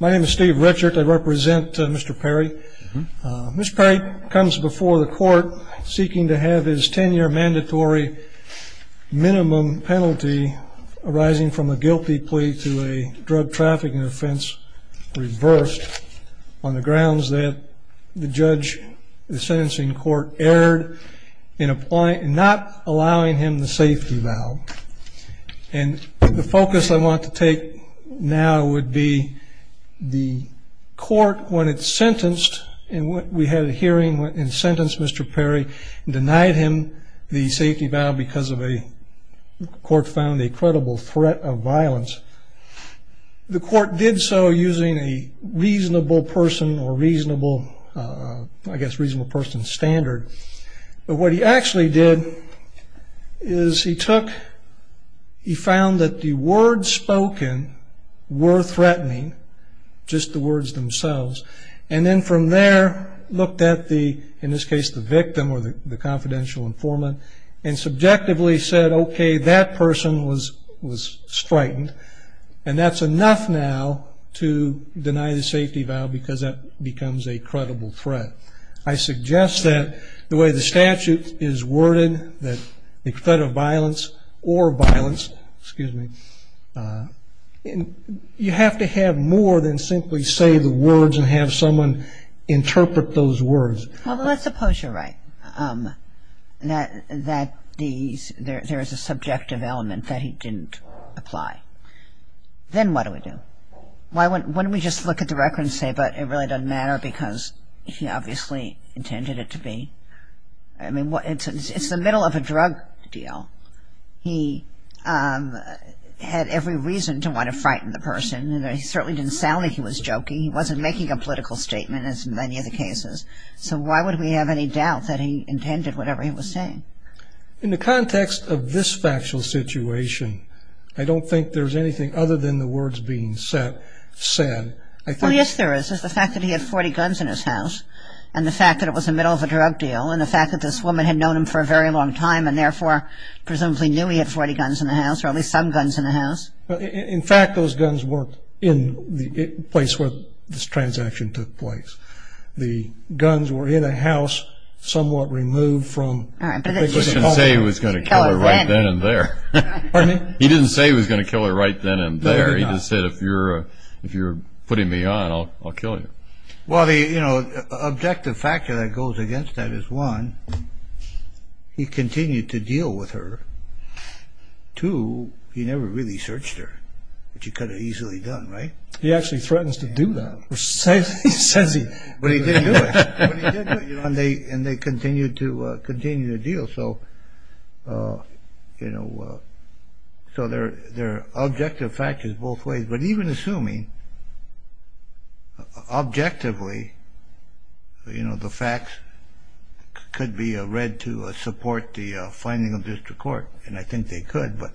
My name is Steve Richard. I represent Mr. Perry. Mr. Perry comes before the court seeking to have his 10-year mandatory minimum penalty arising from a guilty plea to a drug trafficking offense reversed on the grounds that the judge, the sentencing court, erred in not allowing him the safety vow. And the focus I want to take now would be the court when it sentenced, and we had a hearing when it sentenced Mr. Perry, denied him the safety vow because the court found a credible threat of violence. The court did so using a reasonable person or reasonable, I guess reasonable person standard. But what he actually did is he took, he found that the words spoken were threatening, just the words themselves, and then from there looked at the, in this case, the victim or the confidential informant, and subjectively said, okay, that person was straightened, and that's enough now to deny the safety vow because that becomes a credible threat. I suggest that the way the statute is worded, that the threat of violence or violence, excuse me, you have to have more than simply say the words and have someone interpret those words. Well, let's suppose you're right, that there is a subjective element that he didn't apply. Then what do we do? Why don't we just look at the record and say, but it really doesn't matter because he obviously intended it to be. I mean, it's the middle of a drug deal. He had every reason to want to frighten the person. He certainly didn't sound like he was joking. He wasn't making a political statement, as in many of the cases. So why would we have any doubt that he intended whatever he was saying? In the context of this factual situation, I don't think there's anything other than the words being said. Well, yes, there is. There's the fact that he had 40 guns in his house, and the fact that it was the middle of a drug deal, and the fact that this woman had known him for a very long time and therefore presumably knew he had 40 guns in the house or at least some guns in the house. In fact, those guns weren't in the place where this transaction took place. The guns were in a house somewhat removed from the public. He didn't say he was going to kill her right then and there. Pardon me? He didn't say he was going to kill her right then and there. He just said, if you're putting me on, I'll kill you. Well, the objective factor that goes against that is, one, he continued to deal with her. Two, he never really searched her, which he could have easily done, right? He actually threatens to do that. Says he. But he didn't do it. And they continued to deal. So there are objective factors both ways. But even assuming, objectively, the facts could be read to support the finding of district court, and I think they could. But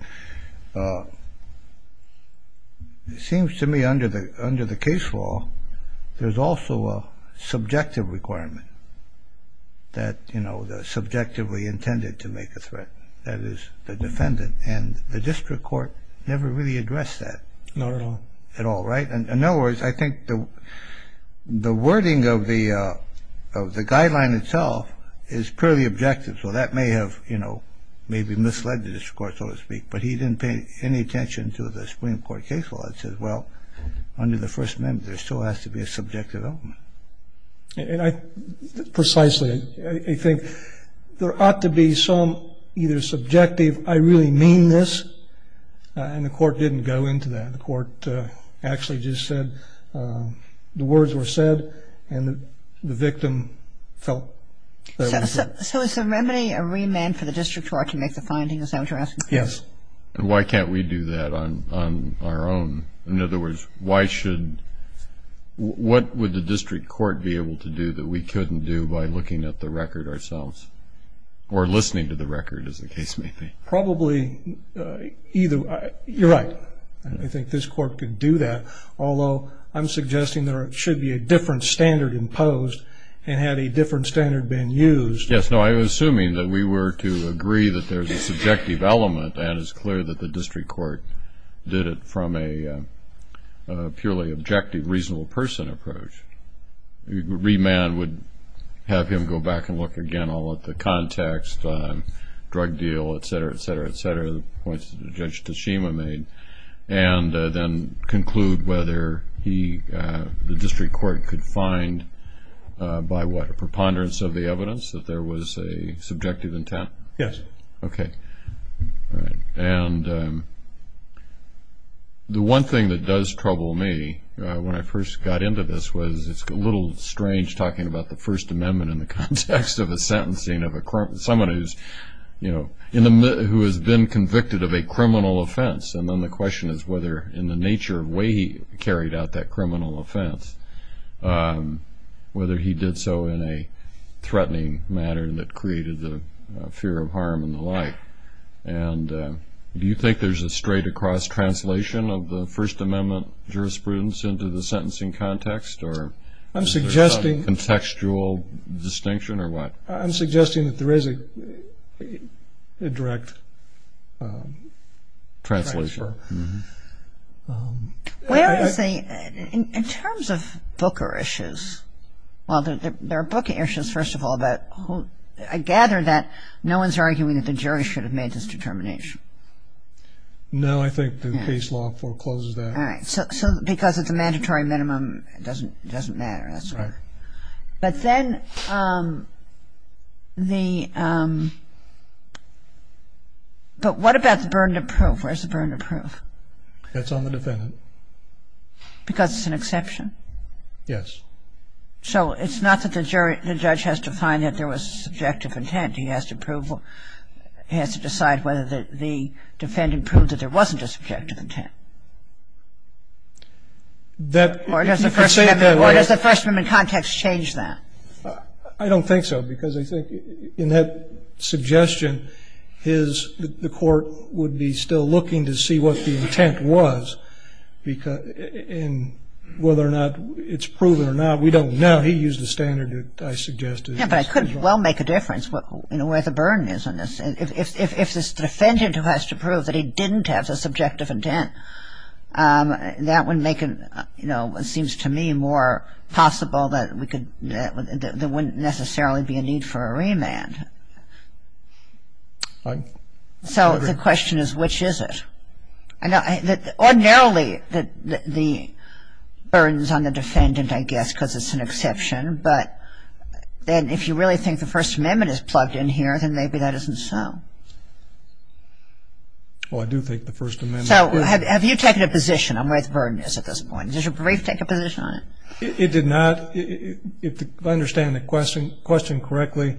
it seems to me under the case law, there's also a subjective requirement that, you know, they're subjectively intended to make a threat. That is, the defendant. And the district court never really addressed that. Not at all. At all, right? In other words, I think the wording of the guideline itself is purely objective. So that may have, you know, maybe misled the district court, so to speak. But he didn't pay any attention to the Supreme Court case law that says, well, under the First Amendment, there still has to be a subjective element. And I precisely think there ought to be some either subjective, I really mean this, and the court didn't go into that. The court actually just said the words were said, and the victim felt that was it. So is the remedy a remand for the district court to make the finding, is that what you're asking? Yes. And why can't we do that on our own? In other words, what would the district court be able to do that we couldn't do by looking at the record ourselves, or listening to the record, as the case may be? Probably either. You're right. I think this court could do that, although I'm suggesting there should be a different standard imposed, and had a different standard been used. Yes. No, I'm assuming that we were to agree that there's a subjective element, and it's clear that the district court did it from a purely objective, reasonable person approach. A remand would have him go back and look again all at the context, drug deal, et cetera, et cetera, et cetera, the points that Judge Tashima made, and then conclude whether he, the district court, could find by what, a preponderance of the evidence that there was a subjective intent? Yes. Okay. All right. And the one thing that does trouble me when I first got into this was it's a little strange talking about the First Amendment in the context of a sentencing of someone who has been convicted of a criminal offense. And then the question is whether, in the nature of the way he carried out that criminal offense, whether he did so in a threatening manner that created the fear of harm and the like. And do you think there's a straight-across translation of the First Amendment jurisprudence into the sentencing context? Or is there some contextual distinction, or what? I'm suggesting that there is a direct transfer. Well, in terms of Booker issues, well, there are Booker issues, first of all, but I gather that no one's arguing that the jury should have made this determination. No, I think the case law forecloses that. All right. So because it's a mandatory minimum, it doesn't matter, that's all. Right. But then the – but what about the burden of proof? Where's the burden of proof? That's on the defendant. Because it's an exception? Yes. So it's not that the judge has to find that there was subjective intent. It's not that the judge has to decide whether the defendant proved that there wasn't a subjective intent. Or does the First Amendment context change that? I don't think so, because I think in that suggestion, his – the court would be still looking to see what the intent was and whether or not it's proven or not. We don't know. He used the standard that I suggested. Yeah, but I couldn't well make a difference, you know, where the burden is on this. If it's the defendant who has to prove that he didn't have a subjective intent, that would make it, you know, it seems to me more possible that we could – there wouldn't necessarily be a need for a remand. So the question is, which is it? Ordinarily, the burden's on the defendant, I guess, because it's an exception. But then if you really think the First Amendment is plugged in here, then maybe that isn't so. Well, I do think the First Amendment is. So have you taken a position on where the burden is at this point? Did your brief take a position on it? It did not. If I understand the question correctly,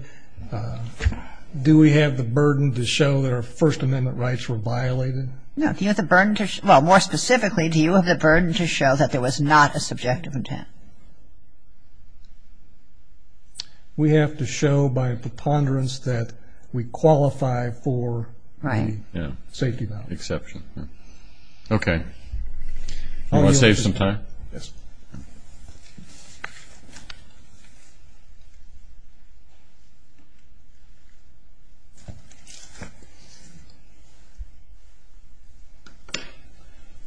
do we have the burden to show that our First Amendment rights were violated? No. Do you have the burden to – well, more specifically, do you have the burden to show that there was not a subjective intent? We have to show by preponderance that we qualify for the safety value. Right. Exception. Okay. You want to save some time? Yes. Okay.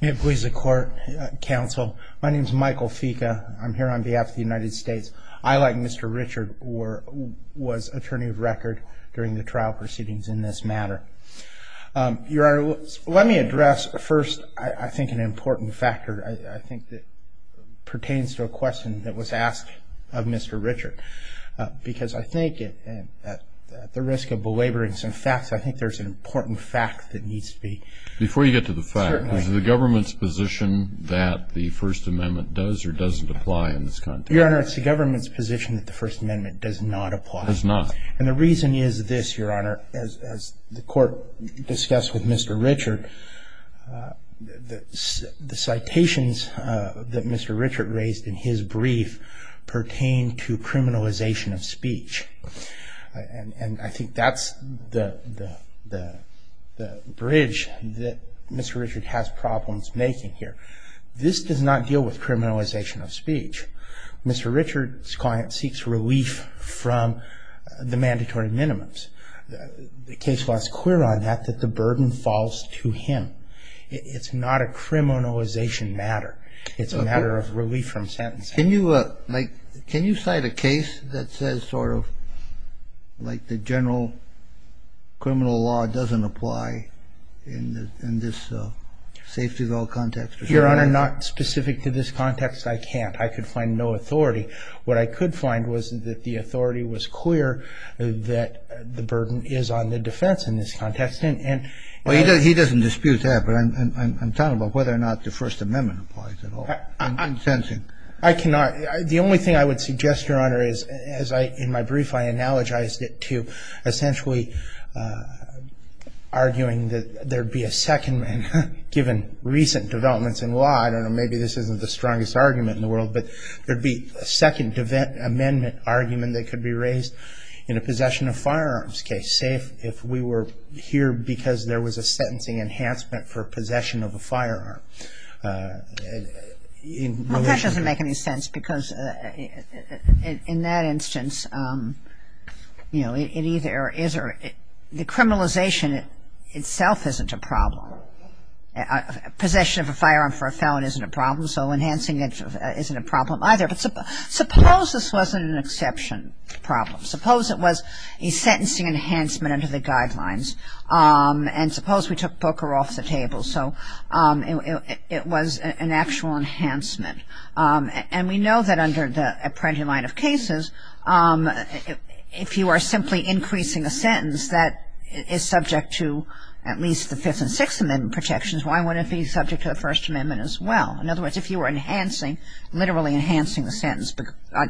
May it please the Court, Counsel. My name's Michael Fica. I'm here on behalf of the United States. I, like Mr. Richard, was attorney of record during the trial proceedings in this matter. Your Honor, let me address first, I think, an important factor, I think, that pertains to a question that was asked of Mr. Richard. Because I think at the risk of belaboring some facts, I think there's an important fact that needs to be – Before you get to the fact, is it the government's position that the First Amendment does or doesn't apply in this context? Your Honor, it's the government's position that the First Amendment does not apply. Does not. And the reason is this, Your Honor. As the Court discussed with Mr. Richard, the citations that Mr. Richard raised in his brief pertain to criminalization of speech. And I think that's the bridge that Mr. Richard has problems making here. This does not deal with criminalization of speech. Mr. Richard's client seeks relief from the mandatory minimums. The case law is clear on that, that the burden falls to him. It's not a criminalization matter. It's a matter of relief from sentencing. Can you cite a case that says sort of, like the general criminal law doesn't apply in this safety goal context? Your Honor, not specific to this context, I can't. I could find no authority. What I could find was that the authority was clear that the burden is on the defense in this context. Well, he doesn't dispute that, but I'm talking about whether or not the First Amendment applies at all. I'm sensing. I cannot. The only thing I would suggest, Your Honor, is as I, in my brief, I analogized it to essentially arguing that there'd be a second, given recent developments in law, I don't know, maybe this isn't the strongest argument in the world, but there'd be a second amendment argument that could be raised in a possession of firearms case, say if we were here because there was a sentencing enhancement for possession of a firearm. Well, that doesn't make any sense because in that instance, you know, it either is or, the criminalization itself isn't a problem. Possession of a firearm for a felon isn't a problem, so enhancing it isn't a problem either. But suppose this wasn't an exception problem. Suppose it was a sentencing enhancement under the guidelines. And suppose we took Booker off the table. So it was an actual enhancement. And we know that under the apprentice line of cases, if you are simply increasing a sentence that is subject to at least the Fifth and Sixth Amendment protections, why wouldn't it be subject to the First Amendment as well? In other words, if you were enhancing, literally enhancing the sentence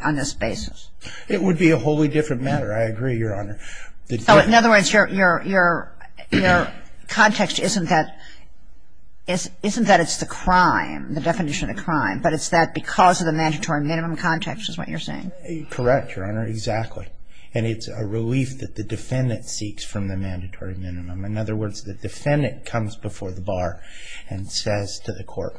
on this basis. It would be a wholly different matter. I agree, Your Honor. So in other words, your context isn't that it's the crime, the definition of the crime, but it's that because of the mandatory minimum context is what you're saying. Correct, Your Honor, exactly. And it's a relief that the defendant seeks from the mandatory minimum. In other words, the defendant comes before the bar and says to the court,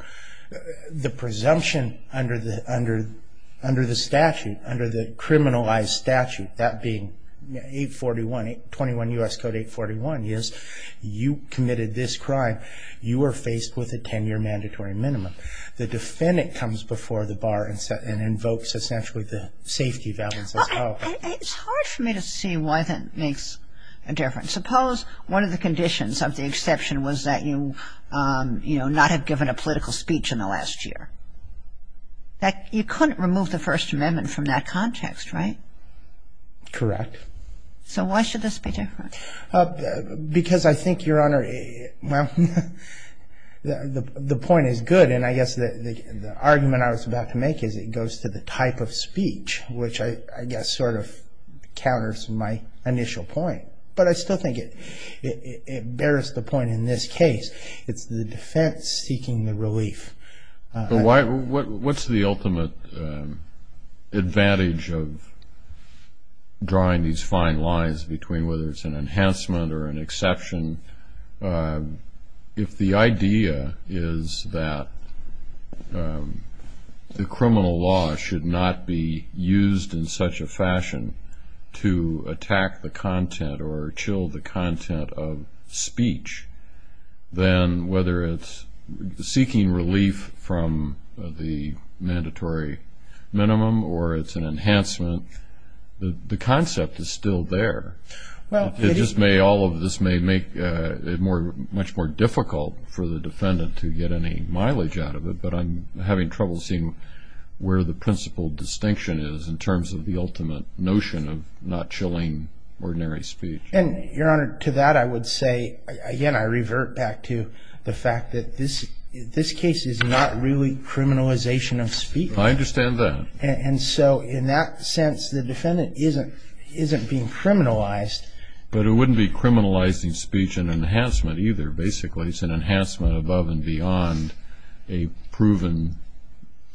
the presumption under the statute, under the criminalized statute, that being 841, 21 U.S. Code 841, is you committed this crime. You are faced with a 10-year mandatory minimum. The defendant comes before the bar and invokes essentially the safety values as well. It's hard for me to see why that makes a difference. But suppose one of the conditions of the exception was that you, you know, not have given a political speech in the last year. You couldn't remove the First Amendment from that context, right? Correct. So why should this be different? Because I think, Your Honor, well, the point is good, and I guess the argument I was about to make is it goes to the type of speech, which I guess sort of counters my initial point. But I still think it bears the point in this case. It's the defense seeking the relief. But what's the ultimate advantage of drawing these fine lines between whether it's an enhancement or an exception if the idea is that the criminal law should not be used in such a fashion to attack the content or chill the content of speech, than whether it's seeking relief from the mandatory minimum or it's an enhancement. The concept is still there. It just may all of this may make it much more difficult for the defendant to get any mileage out of it. But I'm having trouble seeing where the principal distinction is in terms of the ultimate notion of not chilling ordinary speech. And, Your Honor, to that I would say, again, I revert back to the fact that this case is not really criminalization of speech. I understand that. And so in that sense the defendant isn't being criminalized. But it wouldn't be criminalizing speech and enhancement either, basically. But it's an enhancement above and beyond a proven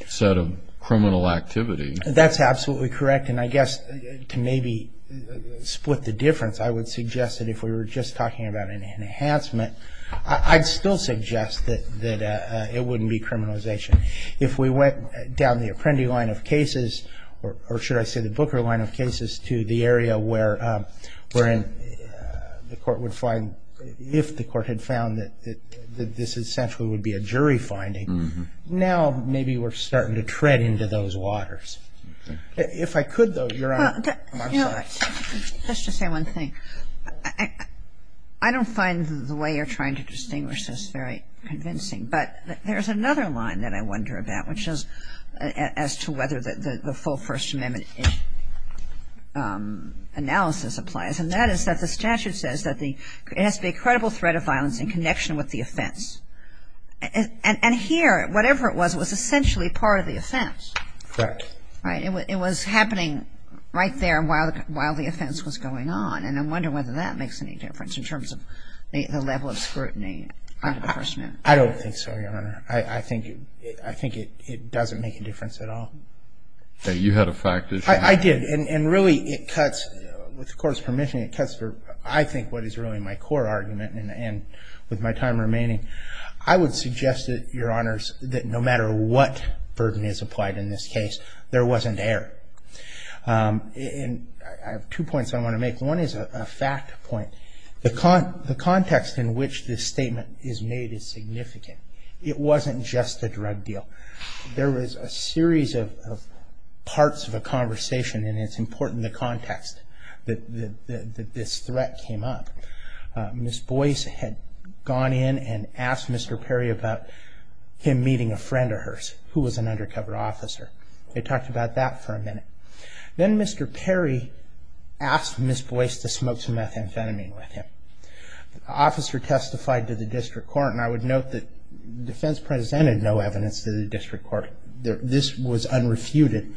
set of criminal activity. That's absolutely correct. And I guess to maybe split the difference, I would suggest that if we were just talking about an enhancement, I'd still suggest that it wouldn't be criminalization. If we went down the Apprendi line of cases, or should I say the Booker line of cases, to the area wherein the court would find, if the court had found that this essentially would be a jury finding, now maybe we're starting to tread into those waters. If I could, though, Your Honor, I'm sorry. Let's just say one thing. I don't find the way you're trying to distinguish this very convincing. But there's another line that I wonder about, which is as to whether the full First Amendment analysis applies. And that is that the statute says that it has to be a credible threat of violence in connection with the offense. And here, whatever it was, it was essentially part of the offense. Correct. Right? It was happening right there while the offense was going on. And I'm wondering whether that makes any difference in terms of the level of scrutiny under the First Amendment. I don't think so, Your Honor. I think it doesn't make a difference at all. You had a fact issue. I did. And really, it cuts, with the Court's permission, it cuts I think what is really my core argument, and with my time remaining, I would suggest that, Your Honors, that no matter what burden is applied in this case, there wasn't error. And I have two points I want to make. One is a fact point. The context in which this statement is made is significant. It wasn't just a drug deal. There was a series of parts of a conversation, and it's important the context that this threat came up. Ms. Boyce had gone in and asked Mr. Perry about him meeting a friend of hers who was an undercover officer. They talked about that for a minute. Then Mr. Perry asked Ms. Boyce to smoke some methamphetamine with him. The officer testified to the District Court, and I would note that defense presented no evidence to the District Court. This was unrefuted.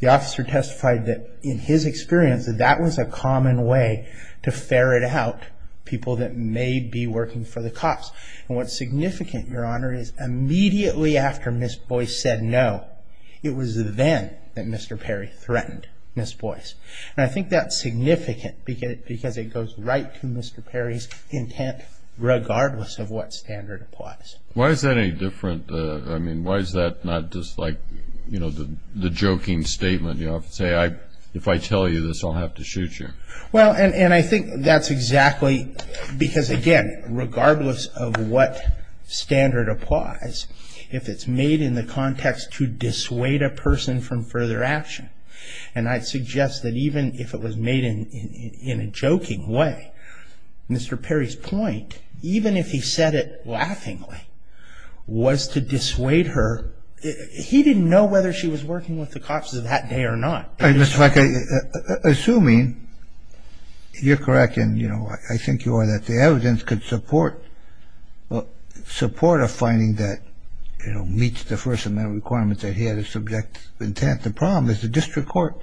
The officer testified that, in his experience, that that was a common way to ferret out people that may be working for the cops. And what's significant, Your Honor, is immediately after Ms. Boyce said no, it was then that Mr. Perry threatened Ms. Boyce. And I think that's significant because it goes right to Mr. Perry's intent, regardless of what standard applies. Why is that any different? I mean, why is that not just like, you know, the joking statement? You know, if I tell you this, I'll have to shoot you. Well, and I think that's exactly because, again, regardless of what standard applies, if it's made in the context to dissuade a person from further action, and I'd suggest that even if it was made in a joking way, Mr. Perry's point, even if he said it laughingly, was to dissuade her. He didn't know whether she was working with the cops that day or not. Mr. Feige, assuming you're correct, and, you know, I think you are that the evidence could support a finding that, you know, meets the first of my requirements that he had a subject intent, the problem is the District Court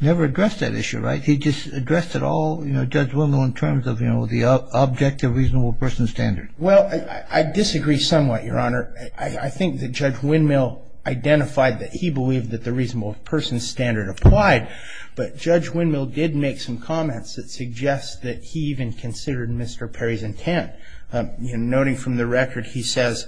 never addressed that issue, right? He just addressed it all, you know, Judge Windmill, in terms of, you know, the objective reasonable person standard. Well, I disagree somewhat, Your Honor. I think that Judge Windmill identified that he believed that the reasonable person standard applied, but Judge Windmill did make some comments that suggest that he even considered Mr. Perry's intent. Noting from the record, he says...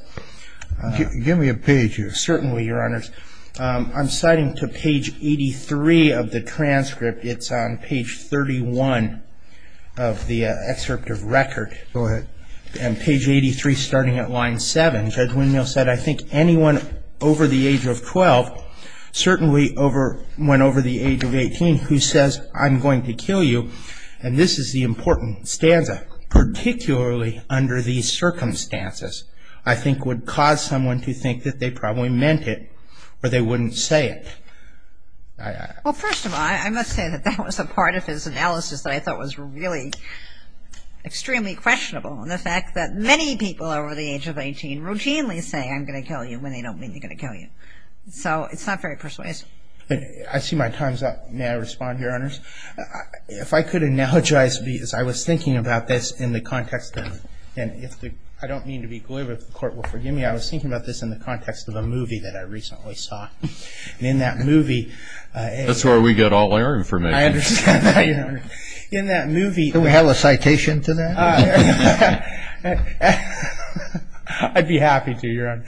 Give me a page here. Certainly, Your Honors. I'm citing to page 83 of the transcript. It's on page 31 of the excerpt of record. Go ahead. And page 83, starting at line 7, Judge Windmill said, I think anyone over the age of 12, certainly when over the age of 18, who says, I'm going to kill you, and this is the important stanza, particularly under these circumstances, I think would cause someone to think that they probably meant it or they wouldn't say it. Well, first of all, I must say that that was a part of his analysis that I thought was really extremely questionable, and the fact that many people over the age of 18 routinely say, I'm going to kill you, when they don't mean they're going to kill you. So it's not very persuasive. I see my time's up. May I respond, Your Honors? If I could analogize, because I was thinking about this in the context of, and I don't mean to be glib, if the Court will forgive me, I was thinking about this in the context of a movie that I recently saw. In that movie- That's where we get all our information. I understand that, Your Honor. In that movie- Can we have a citation to that? I'd be happy to, Your Honor.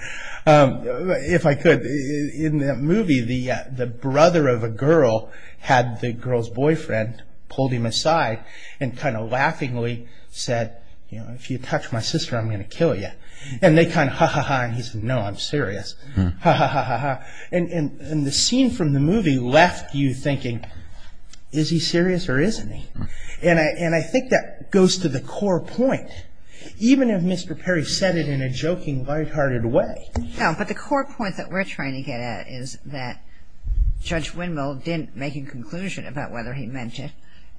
pulled him aside and kind of laughingly said, if you touch my sister, I'm going to kill you. And they kind of, ha, ha, ha, and he said, no, I'm serious. Ha, ha, ha, ha, ha. And the scene from the movie left you thinking, is he serious or isn't he? And I think that goes to the core point. Even if Mr. Perry said it in a joking, light-hearted way- No, but the core point that we're trying to get at is that Judge Windmill didn't make a conclusion about whether he meant it.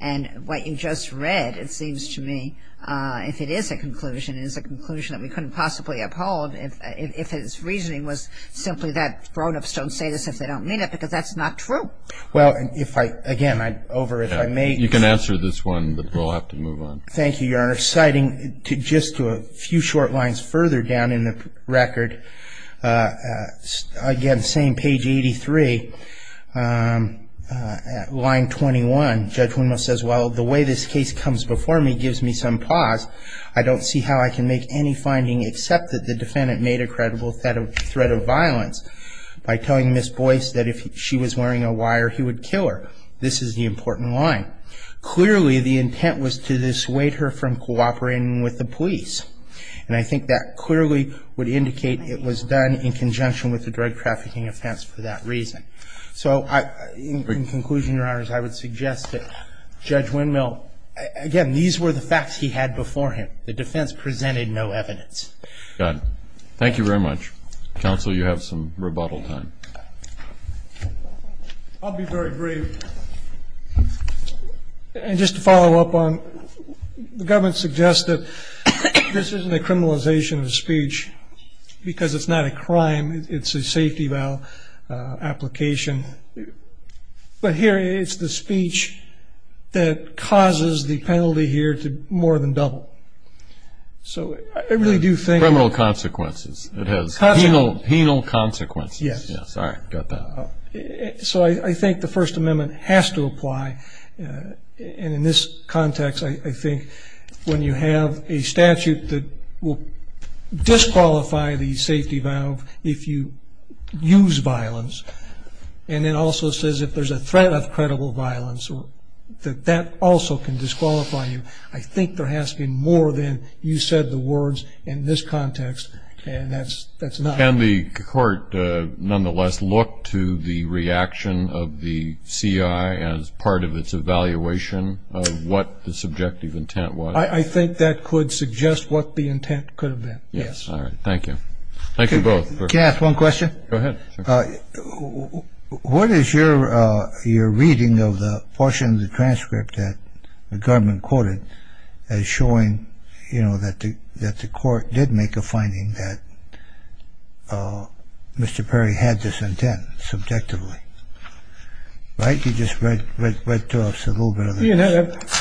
And what you just read, it seems to me, if it is a conclusion, is a conclusion that we couldn't possibly uphold if his reasoning was simply that grown-ups don't say this if they don't mean it, because that's not true. Well, if I, again, over if I may- You can answer this one, but we'll have to move on. Thank you, Your Honor. Citing just a few short lines further down in the record, again, same page 83, line 21, Judge Windmill says, Well, the way this case comes before me gives me some pause. I don't see how I can make any finding except that the defendant made a credible threat of violence by telling Ms. Boyce that if she was wearing a wire, he would kill her. This is the important line. Clearly, the intent was to dissuade her from cooperating with the police. And I think that clearly would indicate it was done in conjunction with the drug trafficking offense for that reason. So in conclusion, Your Honors, I would suggest that Judge Windmill, again, these were the facts he had before him. The defense presented no evidence. Got it. Thank you very much. Counsel, you have some rebuttal time. I'll be very brief. And just to follow up on, the government suggests that this isn't a criminalization of a speech because it's not a crime. It's a safety vial application. But here it's the speech that causes the penalty here to more than double. So I really do think that. Criminal consequences. It has penal consequences. Yes. All right. Got that. So I think the First Amendment has to apply. And in this context, I think when you have a statute that will disqualify the safety valve if you use violence, and it also says if there's a threat of credible violence, that that also can disqualify you. I think there has to be more than you said the words in this context, and that's not. Can the court nonetheless look to the reaction of the CI as part of its evaluation of what the subjective intent was? I think that could suggest what the intent could have been. Yes. All right. Thank you. Thank you both. Can I ask one question? Go ahead. What is your reading of the portion of the transcript that the government quoted as showing, you know, that the court did make a finding that Mr. Perry had this intent subjectively? Right? You just read to us a little bit of this.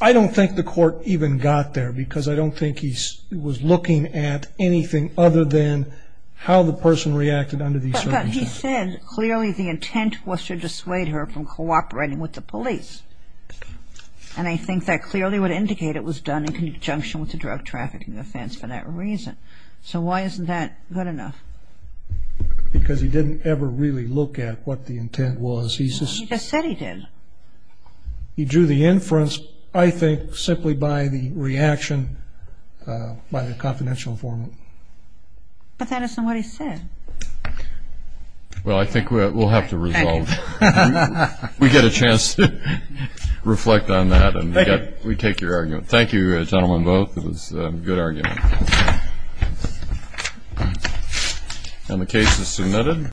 I don't think the court even got there because I don't think he was looking at anything other than how the person reacted under these circumstances. But he said clearly the intent was to dissuade her from cooperating with the police, and I think that clearly would indicate it was done in conjunction with a drug trafficking offense for that reason. So why isn't that good enough? Because he didn't ever really look at what the intent was. He just said he did. He drew the inference, I think, simply by the reaction by the confidential informant. But that isn't what he said. Well, I think we'll have to resolve. Thank you. We get a chance to reflect on that. Thank you. We take your argument. Thank you, gentlemen, both. It was a good argument. And the case is submitted.